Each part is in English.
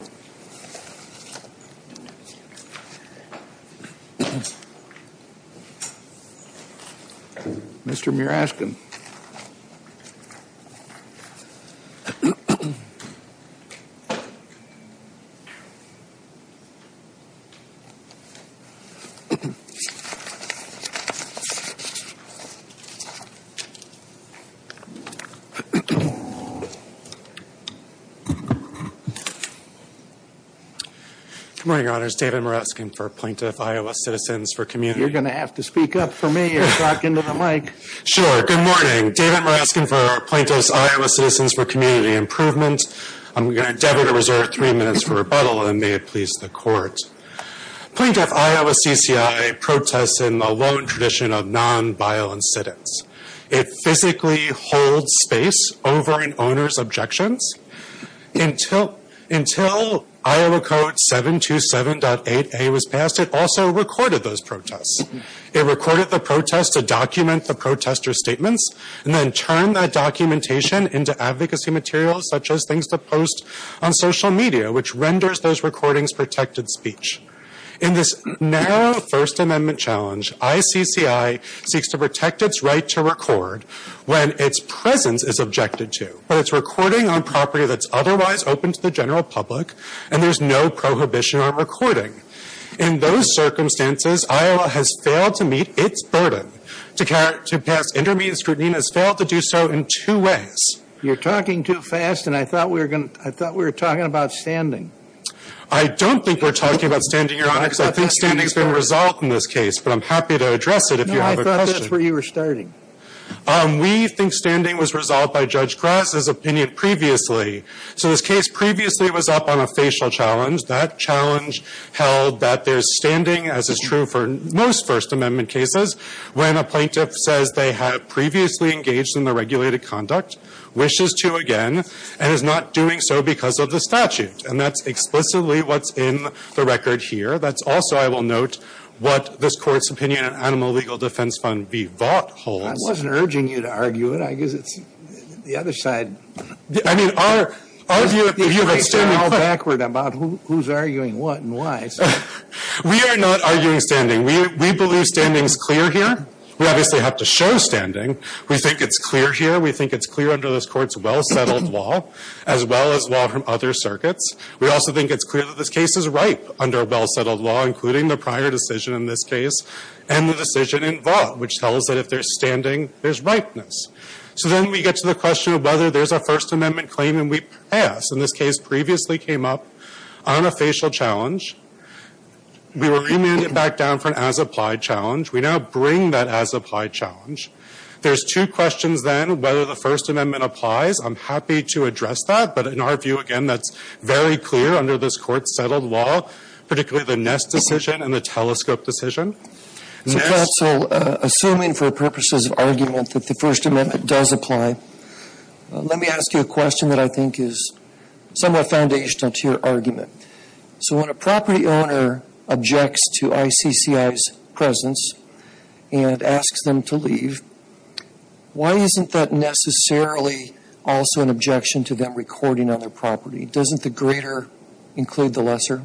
and the court. Plaintiff Iowa CCI protests in the lone tradition of non-violent sit-ins. It physically holds space over an owner's objections. Until Iowa Code 727.8a was passed, it also recorded those protests. It recorded the protests to document the protesters' statements, and then turned that documentation into advocacy material such as things to post on social media, which renders those recordings protected speech. In this narrow First Amendment challenge, ICCI seeks to protect its right to record when its presence is objected to, but it's recording on property that's otherwise open to the general public, and there's no prohibition on recording. In those circumstances, Iowa has failed to meet its burden to pass intermediate scrutiny and has failed to do so in two ways. You're talking too fast, and I thought we were talking about standing. I don't think we're talking about standing, Your Honor, because I think standing's been resolved in this case, but I'm happy to address it if you have a question. No, I thought that's where you were starting. We think standing was resolved by Judge Grass's opinion previously. So this case previously was up on a facial challenge. That challenge held that there's standing, as is true for most First Amendment cases, when a plaintiff says they have previously engaged in the regulated conduct, wishes to again, and is not doing so because of the statute. And that's explicitly what's in the record here. That's also, I will note, what this Court's opinion on Animal Legal Defense Fund v. Vaught holds. I wasn't urging you to argue it. I guess it's the other side. I mean, our view of it standing put- You're all backward about who's arguing what and why. We are not arguing standing. We believe standing's clear here. We obviously have to show standing. We think it's clear here. We think it's clear under this Court's well-settled law, as well as law from other circuits. We also think it's clear that this case is ripe under a well-settled law, including the prior decision in this case and the decision in Vaught, which tells that if there's standing, there's ripeness. So then we get to the question of whether there's a First Amendment claim and we pass. And this case previously came up on a facial challenge. We were remanded back down for an as-applied challenge. We now bring that as-applied challenge. There's two questions then, whether the First Amendment applies. I'm happy to address that, but in our view, again, that's very clear under this Court's settled law, particularly the Ness decision and the Telescope decision. So, Counsel, assuming for purposes of argument that the First Amendment does apply, let me ask you a question that I think is somewhat foundational to your argument. So when a property owner objects to ICCI's presence and asks them to leave, why isn't that necessarily also an objection to them recording on their property? Doesn't the greater include the lesser?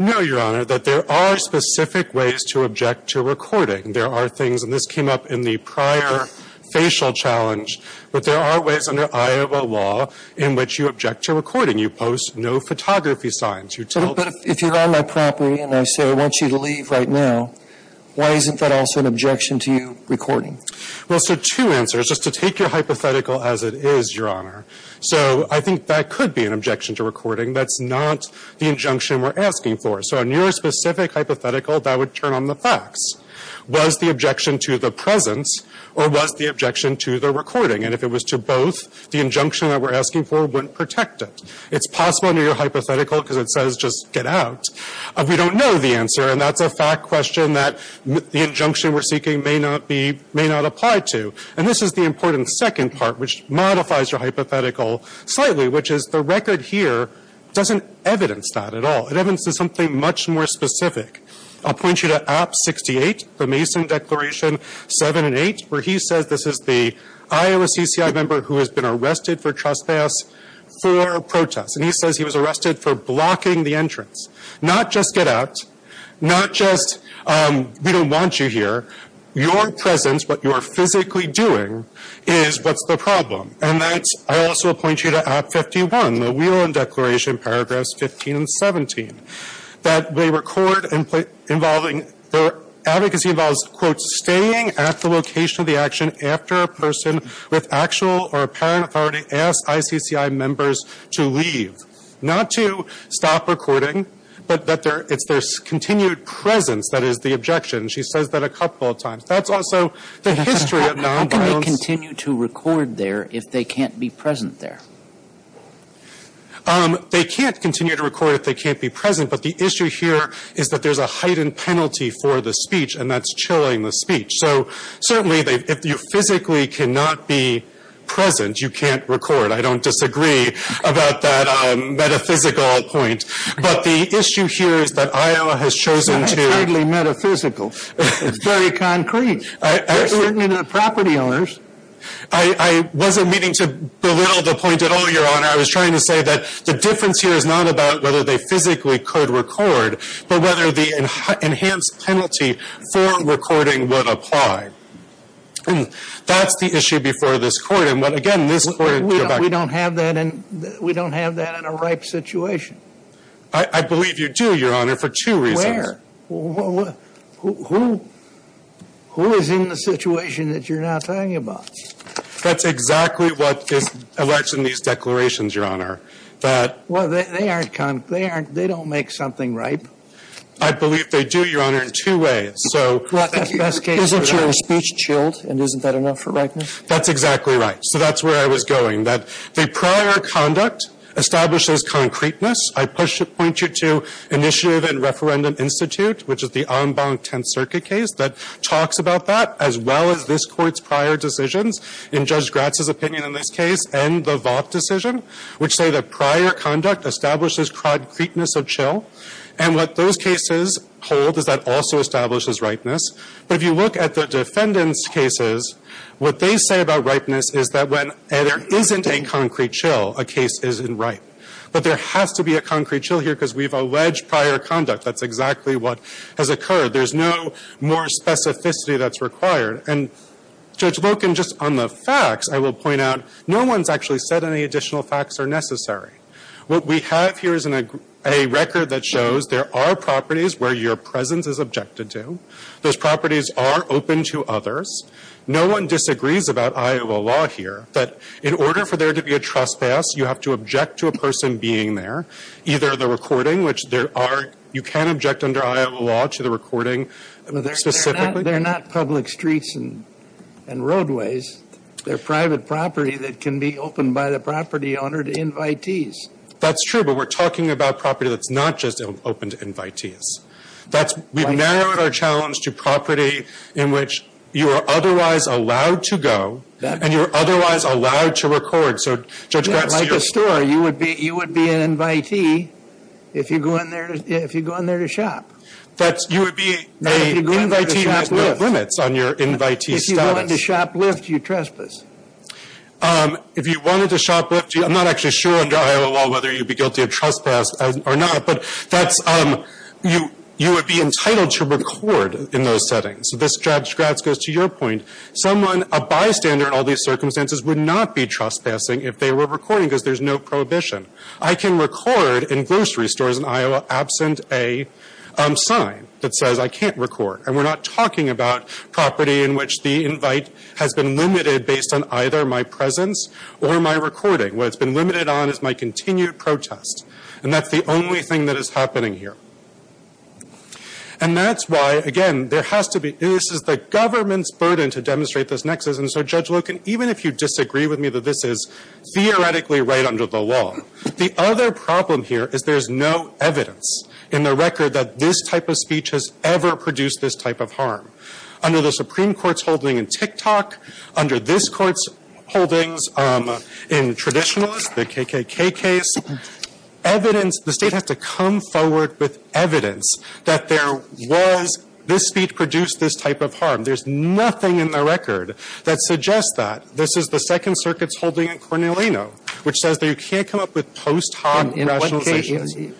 No, Your Honor, that there are specific ways to object to recording. There are things, and this came up in the prior facial challenge, but there are ways under Iowa law in which you object to recording. You post no photography signs. You tell them to leave. But if you're on my property and I say I want you to leave right now, why isn't that also an objection to you recording? Well, so two answers. Just to take your hypothetical as it is, Your Honor. So I think that could be an objection to recording. That's not the injunction we're asking for. So on your specific hypothetical, that would turn on the facts. Was the objection to the presence or was the objection to the recording? And if it was to both, the injunction that we're asking for wouldn't protect it. It's possible under your hypothetical, because it says just get out, we don't know the answer. And that's a fact question that the injunction we're seeking may not be, may not apply to. And this is the important second part, which modifies your hypothetical slightly, which is the record here doesn't evidence that at all. It evidences something much more specific. I'll point you to App 68, the Mason Declaration 7 and 8, where he says this is the Iowa CCI member who has been arrested for trespass for protest. And he says he was arrested for blocking the entrance. Not just get out, not just we don't want you here. Your presence, what you're physically doing is what's the problem. And that's, I also point you to App 51, the Whelan Declaration, paragraphs 15 and 17. That they record involving, the advocacy involves, quote, with actual or apparent authority ask ICCI members to leave. Not to stop recording, but that there, it's their continued presence that is the objection. She says that a couple of times. That's also the history of nonviolence. How can they continue to record there if they can't be present there? They can't continue to record if they can't be present. But the issue here is that there's a heightened penalty for the speech. And that's chilling the speech. So certainly, if you physically cannot be present, you can't record. I don't disagree about that metaphysical point. But the issue here is that Iowa has chosen to. It's not entirely metaphysical. It's very concrete. They're certainly not property owners. I wasn't meaning to belittle the point at all, Your Honor. I was trying to say that the difference here is not about whether they physically could record, but whether the enhanced penalty for recording would apply. And that's the issue before this court. And what, again, this court. We don't have that in a ripe situation. I believe you do, Your Honor, for two reasons. Where? Who is in the situation that you're now talking about? That's exactly what is alleged in these declarations, Your Honor. Well, they aren't concrete. They don't make something ripe. I believe they do, Your Honor, in two ways. So isn't your speech chilled? And isn't that enough for ripeness? That's exactly right. So that's where I was going. That the prior conduct establishes concreteness. I point you to Initiative and Referendum Institute, which is the en banc Tenth Circuit case, that talks about that, as well as this court's prior decisions, in Judge Gratz's opinion in this case, and the Vought decision, which say that prior conduct establishes concreteness of chill. And what those cases hold is that also establishes ripeness. But if you look at the defendant's cases, what they say about ripeness is that when there isn't a concrete chill, a case isn't ripe. But there has to be a concrete chill here because we've alleged prior conduct. That's exactly what has occurred. There's no more specificity that's required. And Judge Loken, just on the facts, I will point out, no one's actually said any additional facts are necessary. What we have here is a record that shows there are properties where your presence is objected to. Those properties are open to others. No one disagrees about Iowa law here. But in order for there to be a trespass, you have to object to a person being there. Either the recording, which there are, you can object under Iowa law to the recording specifically. They're not public streets and roadways. They're private property that can be opened by the property owner to invitees. That's true, but we're talking about property that's not just open to invitees. That's, we've narrowed our challenge to property in which you are otherwise allowed to go, and you're otherwise allowed to record. So, Judge Grant, so you're- Like a store, you would be an invitee if you go in there to shop. That's, you would be a invitee with no limits on your invitee status. If you wanted to shoplift, you'd trespass. If you wanted to shoplift, I'm not actually sure under Iowa law whether you'd be guilty of trespass or not, but that's, you would be entitled to record in those settings. So this, Judge Gratz, goes to your point. Someone, a bystander in all these circumstances, would not be trespassing if they were recording because there's no prohibition. I can record in grocery stores in Iowa absent a sign that says I can't record, and we're not talking about property in which the invite has been limited based on either my presence or my recording. What it's been limited on is my continued protest, and that's the only thing that is happening here. And that's why, again, there has to be, this is the government's burden to demonstrate this nexus. And so, Judge Loken, even if you disagree with me that this is theoretically right under the law, the other problem here is there's no evidence in the record that this type of speech has ever produced this type of harm. Under the Supreme Court's holding in TikTok, under this court's holdings in traditionalist, the KKK case. Evidence, the state has to come forward with evidence that there was, this speech produced this type of harm. There's nothing in the record that suggests that. This is the Second Circuit's holding in Cornelino, which says that you can't come up with post-hot rationalizations.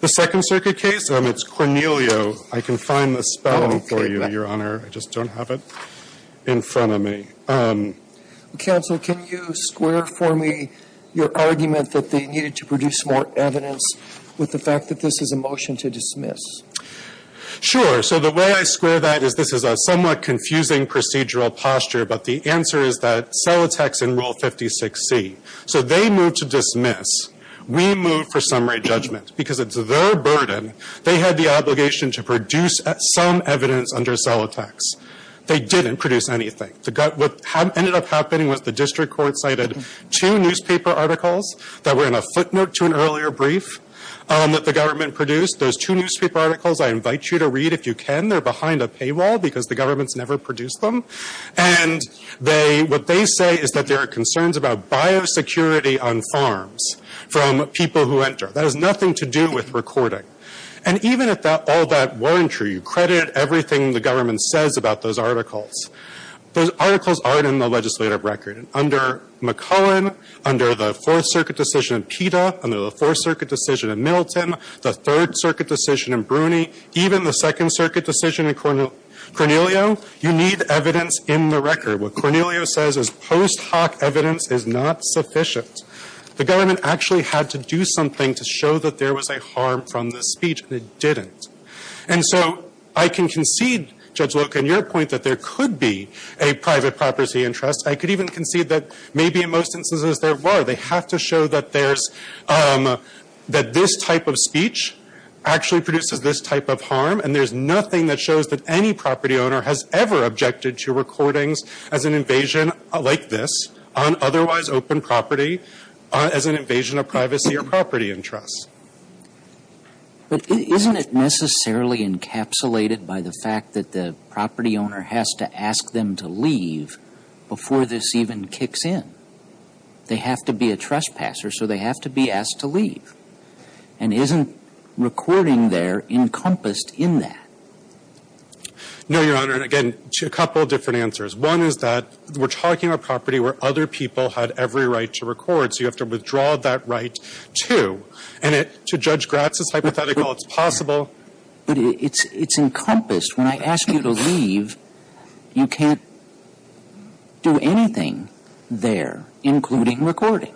The Second Circuit case, it's Cornelio. I can find the spelling for you, Your Honor. I just don't have it in front of me. Counsel, can you square for me your argument that they needed to produce more evidence with the fact that this is a motion to dismiss? Sure. So the way I square that is this is a somewhat confusing procedural posture, but the answer is that Celotex in Rule 56C. So they moved to dismiss. We moved for summary judgment because it's their burden. They had the obligation to produce some evidence under Celotex. They didn't produce anything. What ended up happening was the district court cited two newspaper articles that were in a footnote to an earlier brief that the government produced. Those two newspaper articles, I invite you to read if you can. They're behind a paywall because the government's never produced them. And what they say is that there are concerns about biosecurity on farms from people who enter. That has nothing to do with recording. And even if all that weren't true, you credit everything the government says about those articles. Those articles aren't in the legislative record. Under McClellan, under the Fourth Circuit decision in PETA, under the Fourth Circuit decision in Middleton, the Third Circuit decision in Bruni, even the Second Circuit decision in Cornelio, you need evidence in the record. What Cornelio says is post hoc evidence is not sufficient. The government actually had to do something to show that there was a harm from this speech, and it didn't. And so I can concede, Judge Loca, in your point that there could be a private property interest. I could even concede that maybe in most instances there were. They have to show that there's, that this type of speech actually produces this type of harm. And there's nothing that shows that any property owner has ever objected to recordings as an invasion like this on otherwise open property as an invasion of privacy or property interests. But isn't it necessarily encapsulated by the fact that the property owner has to ask them to leave before this even kicks in? They have to be a trespasser, so they have to be asked to leave. And isn't recording there encompassed in that? No, Your Honor, and again, a couple of different answers. One is that we're talking about property where other people had every right to record, so you have to withdraw that right, too. And to Judge Gratz's hypothetical, it's possible. But it's encompassed. When I ask you to leave, you can't do anything there, including recording.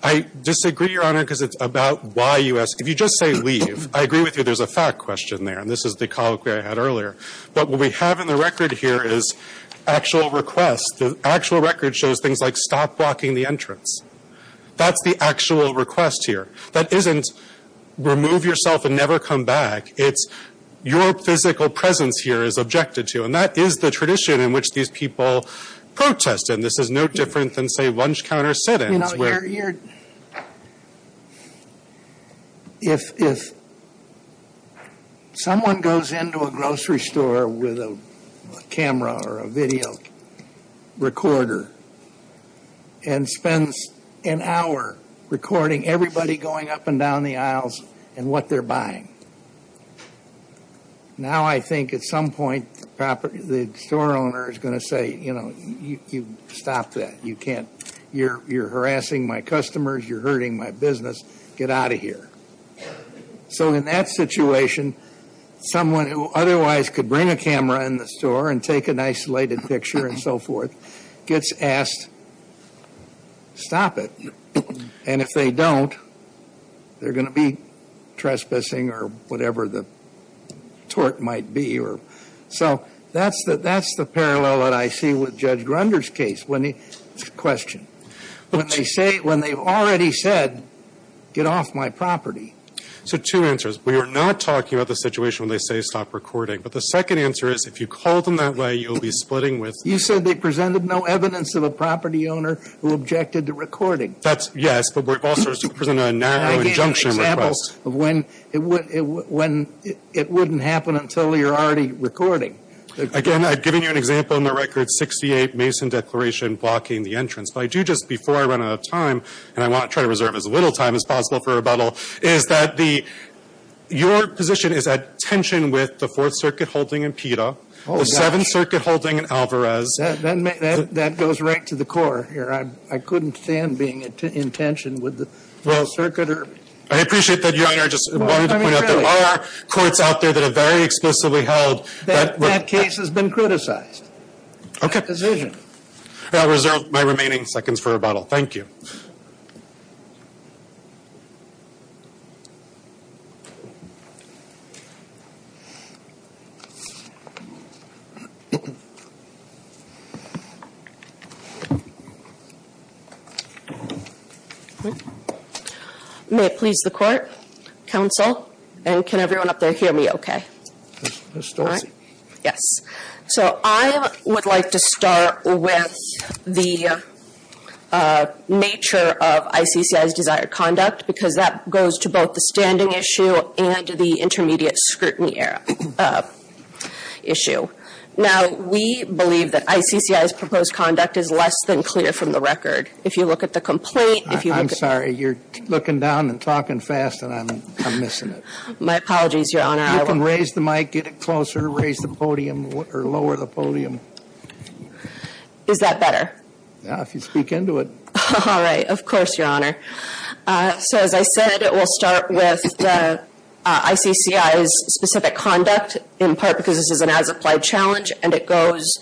I disagree, Your Honor, because it's about why you ask. If you just say leave, I agree with you, there's a fact question there. And this is the call that I had earlier. But what we have in the record here is actual requests. The actual record shows things like stop blocking the entrance. That's the actual request here. That isn't remove yourself and never come back. It's your physical presence here is objected to. And that is the tradition in which these people protest. And this is no different than, say, lunch counter sit-ins. You know, if someone goes into a grocery store with a camera or a video recorder and spends an hour recording everybody going up and down the aisles and what they're buying, now I think at some point the store owner is going to say, you know, you stop that. You're harassing my customers. You're hurting my business. Get out of here. So in that situation, someone who otherwise could bring a camera in the store and take an isolated picture and so forth gets asked, stop it. And if they don't, they're going to be trespassing or whatever the tort might be. So that's the parallel that I see with Judge Grunder's case. Question. When they say, when they've already said, get off my property. So two answers. We are not talking about the situation when they say stop recording. But the second answer is, if you call them that way, you'll be splitting with. You said they presented no evidence of a property owner who objected to recording. That's, yes. But we've also presented a narrow injunction request. When it wouldn't happen until you're already recording. Again, I've given you an example in the record, 68 Mason declaration blocking the entrance. But I do just, before I run out of time, and I want to try to reserve as little time as possible for rebuttal, is that your position is at tension with the Fourth Circuit holding in PETA, the Seventh Circuit holding in Alvarez. That goes right to the core here. I couldn't stand being in tension with the Fourth Circuit. I appreciate that, Your Honor. I just wanted to point out there are courts out there that have very explicitly held that case has been criticized. I'll reserve my remaining seconds for rebuttal. Thank you. May it please the court, counsel, and can everyone up there hear me okay? Ms. Stolzi. Yes. So I would like to start with the nature of ICCI's desired conduct, because that goes to both the standing issue and the intermediate scrutiny issue. Now, we believe that ICCI's proposed conduct is less than clear from the record. If you look at the complaint, if you look at- I'm sorry, you're looking down and talking fast, and I'm missing it. My apologies, Your Honor. You can raise the mic, get it closer, raise the podium, or lower the podium. Is that better? Yeah, if you speak into it. All right, of course, Your Honor. So as I said, we'll start with the ICCI's specific conduct, in part because this is an as-applied challenge, and it goes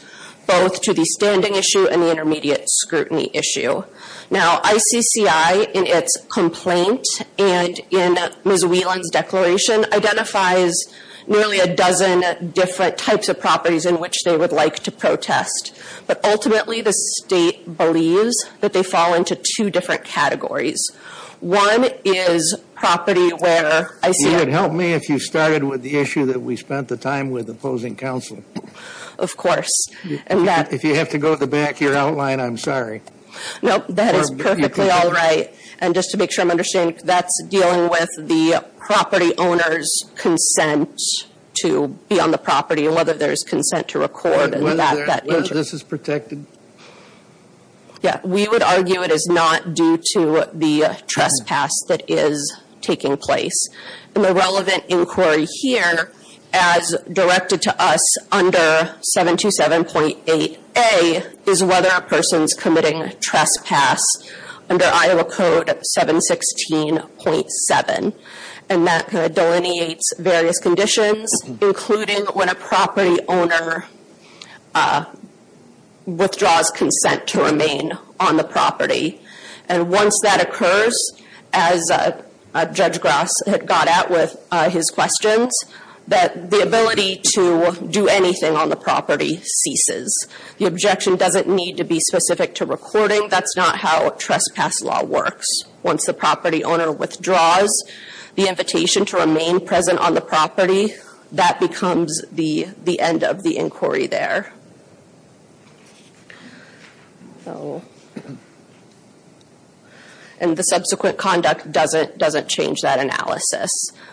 both to the standing issue and the intermediate scrutiny issue. Now, ICCI, in its complaint and in Ms. Whelan's declaration, identifies nearly a dozen different types of properties in which they would like to protest. But ultimately, the state believes that they fall into two different categories. One is property where ICI- You would help me if you started with the issue that we spent the time with opposing counsel. Of course, and that- If you have to go to the back of your outline, I'm sorry. No, that is perfectly all right. And just to make sure I'm understanding, that's dealing with the property owner's consent to be on the property, and whether there's consent to record and that- Whether this is protected. Yeah, we would argue it is not due to the trespass that is taking place. And the relevant inquiry here, as directed to us under 727.8a, is whether a person's committing trespass. Under Iowa Code 716.7, and that delineates various conditions, including when a property owner withdraws consent to remain on the property. And once that occurs, as Judge Grass had got at with his questions, that the ability to do anything on the property ceases. The objection doesn't need to be specific to recording. That's not how trespass law works. Once the property owner withdraws the invitation to remain present on the property, that becomes the end of the inquiry there. And the subsequent conduct doesn't change that analysis.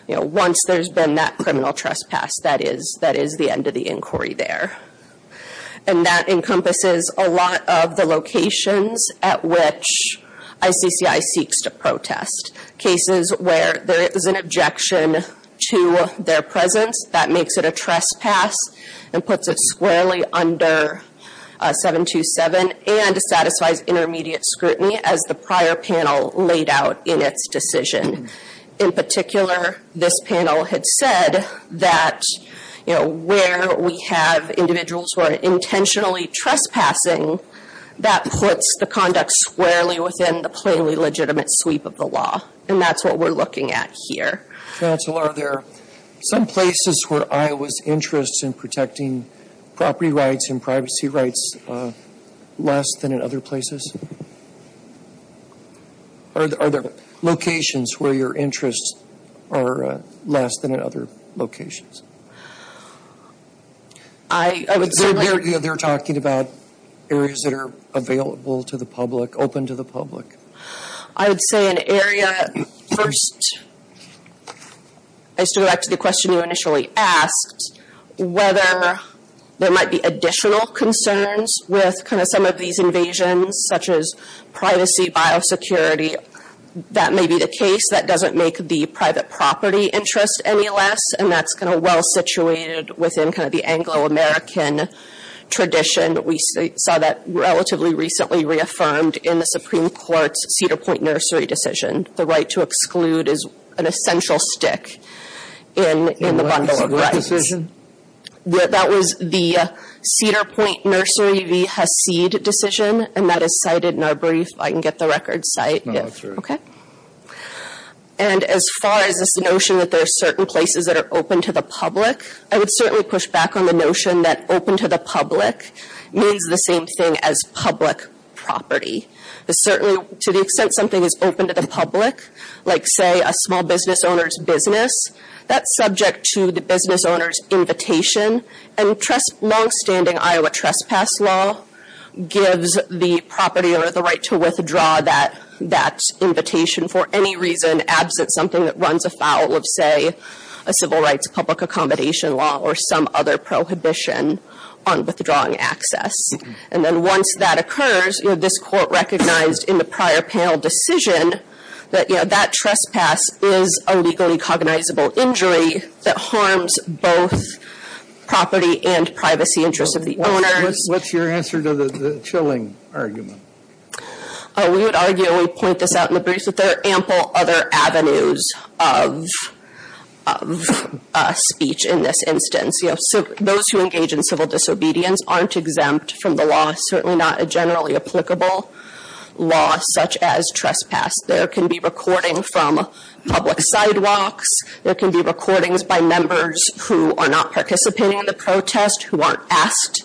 Once there's been that criminal trespass, that is the end of the inquiry there. And that encompasses a lot of the locations at which ICCI seeks to protest. Cases where there is an objection to their presence, that makes it a trespass and puts it squarely under 727, and satisfies intermediate scrutiny as the prior panel laid out in its decision. In particular, this panel had said that where we have individuals who are intentionally trespassing, that puts the conduct squarely within the plainly legitimate sweep of the law. And that's what we're looking at here. Counsel, are there some places where Iowa's interest in protecting property rights and privacy rights less than in other places? Are there locations where your interests are less than in other locations? I would certainly- They're talking about areas that are available to the public, open to the public. I would say an area, first, I used to go back to the question you initially asked. Whether there might be additional concerns with kind of some of these invasions, such as privacy, biosecurity, that may be the case. That doesn't make the private property interest any less, and that's kind of well situated within kind of the Anglo-American tradition. We saw that relatively recently reaffirmed in the Supreme Court's Cedar Point Nursery decision. The right to exclude is an essential stick in the bundle of rights. What decision? That was the Cedar Point Nursery v. Haseed decision, and that is cited in our brief. I can get the record cite. No, that's right. Okay. And as far as this notion that there are certain places that are open to the public, I would certainly push back on the notion that open to the public means the same thing as public property. Certainly, to the extent something is open to the public, like say a small business owner's business, that's subject to the business owner's invitation. And longstanding Iowa trespass law gives the property or the right to withdraw that invitation for any reason absent something that runs afoul of, say, a civil rights public accommodation law or some other prohibition on withdrawing access. And then once that occurs, this court recognized in the prior panel decision that that trespass is a legally cognizable injury that harms both property and privacy interests of the owners. What's your answer to the chilling argument? We would argue, we point this out in the brief, that there are ample other avenues of speech in this instance. Those who engage in civil disobedience aren't exempt from the law, certainly not a generally applicable law such as trespass. There can be recording from public sidewalks. There can be recordings by members who are not participating in the protest, who aren't asked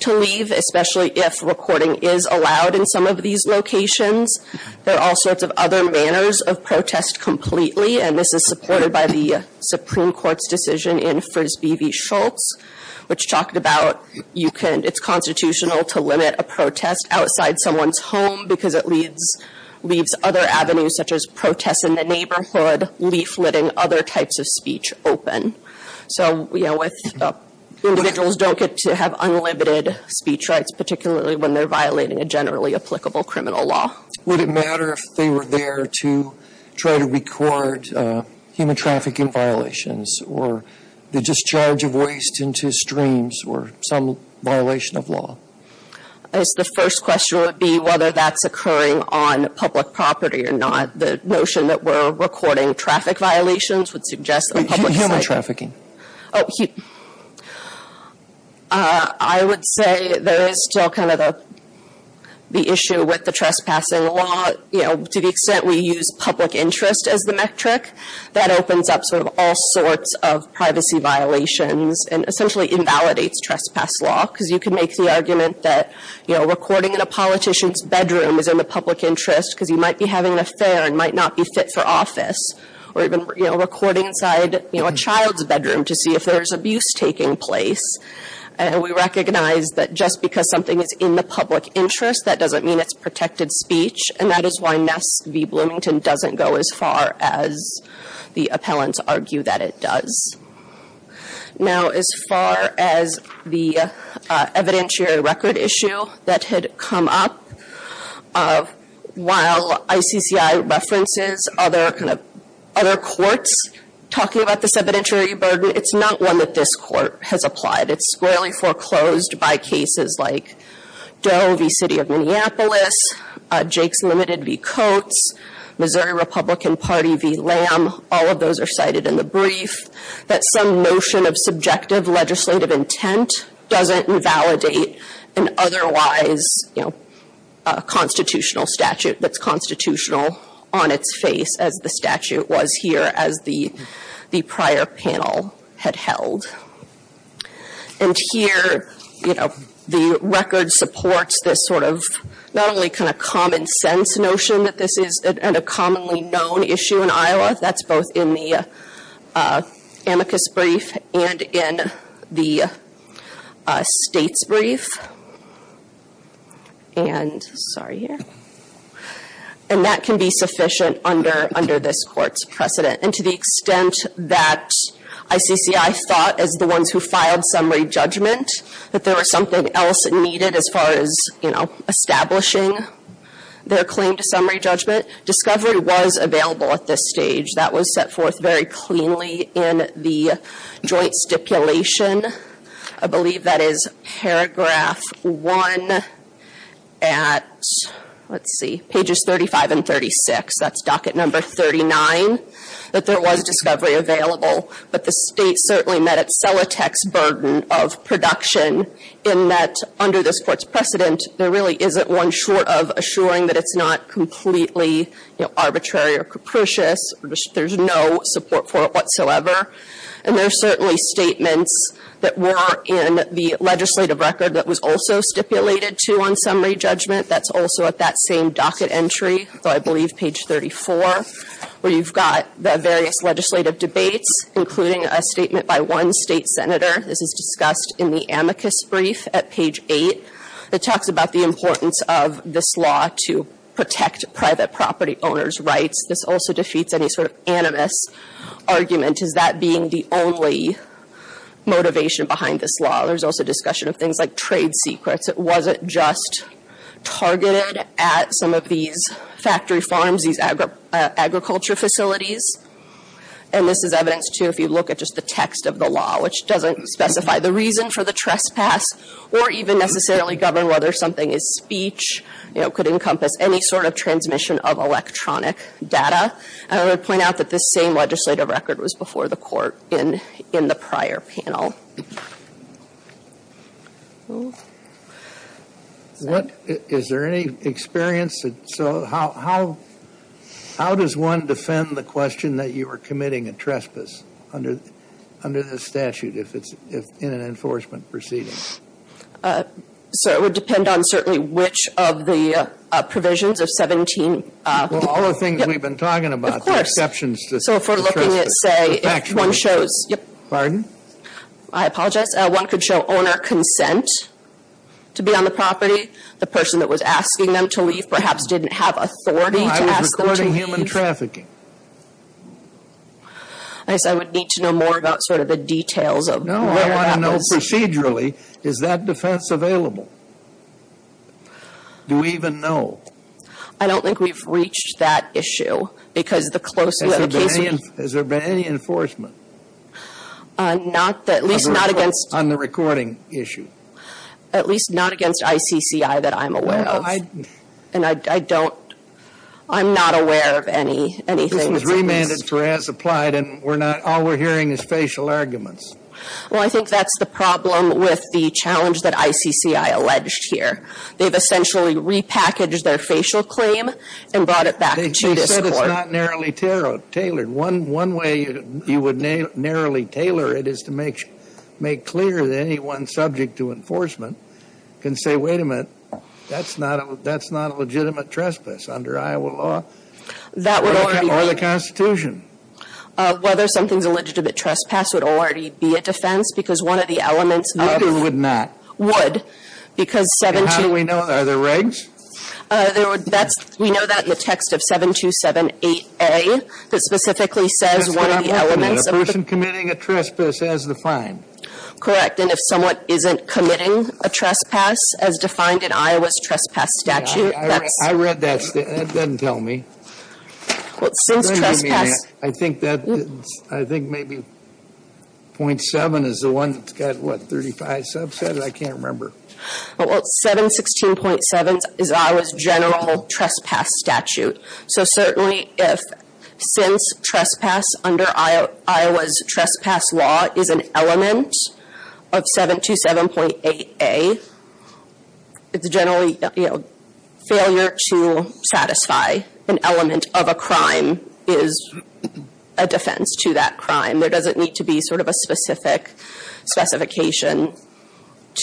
to leave, especially if recording is allowed in some of these locations. There are all sorts of other manners of protest completely, and this is supported by the Supreme Court's decision in Frisbee v. Schultz, which talked about it's constitutional to limit a protest outside someone's home, because it leaves other avenues such as protests in the neighborhood, leafleting, other types of speech open. So individuals don't get to have unlimited speech rights, particularly when they're violating a generally applicable criminal law. Would it matter if they were there to try to record human trafficking violations, or the discharge of waste into streams, or some violation of law? I guess the first question would be whether that's occurring on public property or not. The notion that we're recording traffic violations would suggest that public- Human trafficking. I would say there is still kind of the issue with the trespassing law. To the extent we use public interest as the metric, that opens up sort of all sorts of privacy violations and essentially invalidates trespass law, because you can make the argument that recording in a politician's bedroom is in the public interest, because he might be having an affair and might not be fit for office. Or even recording inside a child's bedroom to see if there's abuse taking place. And we recognize that just because something is in the public interest, that doesn't mean it's protected speech. And that is why Ness v Bloomington doesn't go as far as the appellants argue that it does. Now, as far as the evidentiary record issue that had come up, while ICCI references other courts talking about this evidentiary burden, it's not one that this court has applied. It's squarely foreclosed by cases like Doe v City of Minneapolis, Jake's Limited v Coates, Missouri Republican Party v Lamb, all of those are cited in the brief. That some notion of subjective legislative intent doesn't invalidate an otherwise constitutional statute that's constitutional on its face, as the statute was here as the prior panel had held. And here, the record supports this sort of, not only kind of common sense notion that this is a commonly known issue in Iowa, that's both in the amicus brief and in the state's brief. And, sorry here, and that can be sufficient under this court's precedent. And to the extent that ICCI thought, as the ones who filed summary judgment, that there was something else needed as far as establishing their claim to summary judgment. Discovery was available at this stage. That was set forth very cleanly in the joint stipulation. I believe that is paragraph one at, let's see, pages 35 and 36, that's docket number 39, that there was discovery available. But the state certainly met its sellotext burden of production in that under this court's precedent, there really isn't one short of assuring that it's not completely arbitrary or capricious, there's no support for it whatsoever. And there's certainly statements that were in the legislative record that was also stipulated to on summary judgment. That's also at that same docket entry, so I believe page 34, where you've got the various legislative debates, including a statement by one state senator. This is discussed in the amicus brief at page eight. It talks about the importance of this law to protect private property owners' rights. This also defeats any sort of animus argument, is that being the only motivation behind this law. There's also discussion of things like trade secrets. Was it just targeted at some of these factory farms, these agriculture facilities? And this is evidence, too, if you look at just the text of the law, which doesn't specify the reason for the trespass. Or even necessarily govern whether something is speech, could encompass any sort of transmission of electronic data. And I would point out that this same legislative record was before the court in the prior panel. What, is there any experience? So how does one defend the question that you are committing a trespass under this statute if it's in an enforcement proceeding? So it would depend on certainly which of the provisions of 17- Well, all the things we've been talking about, the exceptions to trespass. So if we're looking at, say, if one shows- Pardon? I apologize. One could show owner consent to be on the property. The person that was asking them to leave perhaps didn't have authority to ask them to leave. I was recording human trafficking. I guess I would need to know more about sort of the details of what happens. No, I want to know procedurally, is that defense available? Do we even know? I don't think we've reached that issue because the close- Has there been any enforcement? At least not against- On the recording issue. At least not against ICCI that I'm aware of. And I don't, I'm not aware of anything that's- This was remanded for as applied and we're not, all we're hearing is facial arguments. Well, I think that's the problem with the challenge that ICCI alleged here. They've essentially repackaged their facial claim and brought it back to this court. They said it's not narrowly tailored. One way you would narrowly tailor it is to make clear that anyone subject to enforcement can say, wait a minute, that's not a legitimate trespass under Iowa law or the Constitution. Whether something's a legitimate trespass would already be a defense because one of the elements of- Would or would not? Would. Because 7- And how do we know, are there regs? There would, that's, we know that in the text of 7278A, that specifically says one of the elements of- That's what I'm looking at, a person committing a trespass as defined. Correct, and if someone isn't committing a trespass as defined in Iowa's trespass statute, that's- I read that, that doesn't tell me. Well, since trespass- I think that, I think maybe 0.7 is the one that's got what, 35 subsets, I can't remember. Well, 716.7 is Iowa's general trespass statute. So certainly if, since trespass under Iowa's trespass law is an element of 727.8A, it's generally failure to satisfy an element of a crime is a defense to that crime. There doesn't need to be sort of a specific specification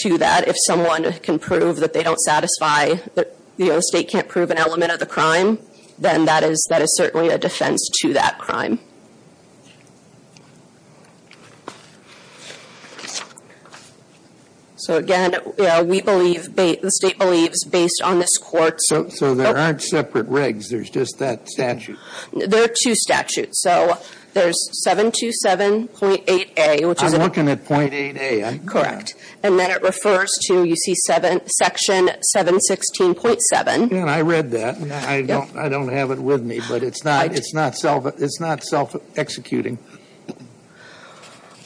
to that. If someone can prove that they don't satisfy, the state can't prove an element of the crime, then that is certainly a defense to that crime. So again, we believe, the state believes, based on this court- So there aren't separate regs, there's just that statute? There are two statutes. So there's 727.8A, which is- I'm looking at 0.8A. Correct. And then it refers to, you see, section 716.7. I read that. I don't have it with me, but it's not self-executing.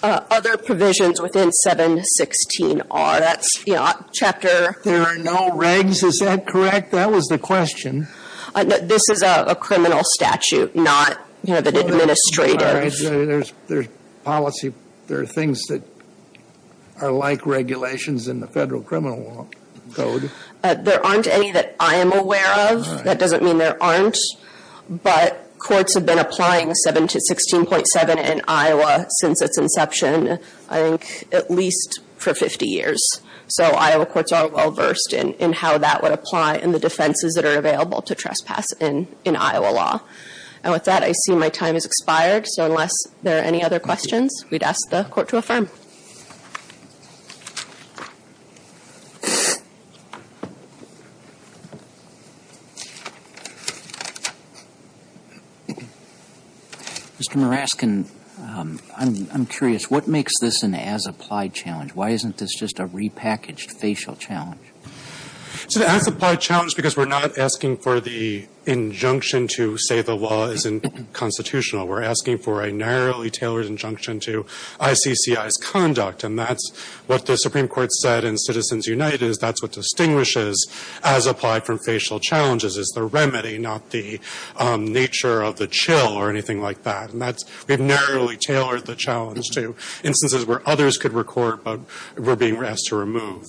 Other provisions within 716 are, that's, you know, chapter- There are no regs, is that correct? That was the question. This is a criminal statute, not, you know, the administrative- There's policy, there are things that are like regulations in the federal criminal law code. There aren't any that I am aware of. That doesn't mean there aren't. But courts have been applying 716.7 in Iowa since its inception, I think, at least for 50 years. So Iowa courts are well-versed in how that would apply in the defenses that are available to trespass in Iowa law. And with that, I see my time has expired. So unless there are any other questions, we'd ask the court to affirm. Mr. Muraskin, I'm curious, what makes this an as-applied challenge? Why isn't this just a repackaged facial challenge? It's an as-applied challenge because we're not asking for the injunction to say the law isn't constitutional. We're asking for a narrowly tailored injunction to ICCI's conduct. And that's what the Supreme Court said in Citizens United, is that's what distinguishes as-applied from facial challenges is the remedy, not the nature of the chill or anything like that. And we've narrowly tailored the challenge to instances where others could record, but we're being asked to remove.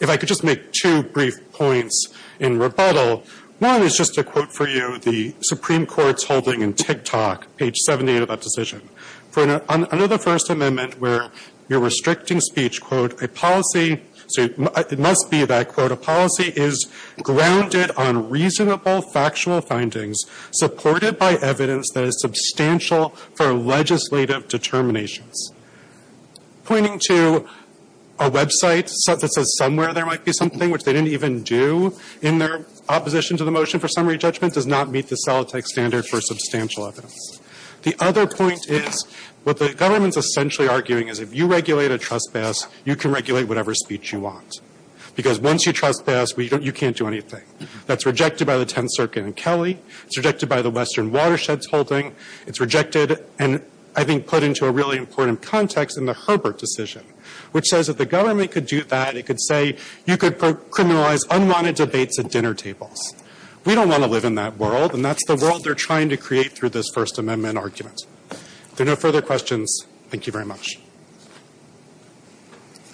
If I could just make two brief points in rebuttal. One is just a quote for you the Supreme Court's holding in TikTok, page 78 of that decision. Under the First Amendment, where you're restricting speech, quote, So it must be that, quote, Pointing to a website that says somewhere there might be something, which they didn't even do in their opposition to the motion for summary judgment, does not meet the Solitec standard for substantial evidence. The other point is what the government's essentially arguing is if you regulate a trespass, you can regulate whatever speech you want. Because once you trespass, you can't do anything. That's rejected by the 10th Circuit and Kelly. It's rejected by the Western Watershed's holding. It's rejected and I think put into a really important context in the Herbert decision, which says if the government could do that, it could say you could criminalize unwanted debates at dinner tables. We don't want to live in that world, and that's the world they're trying to create through this First Amendment argument. If there are no further questions, thank you very much. Thank you.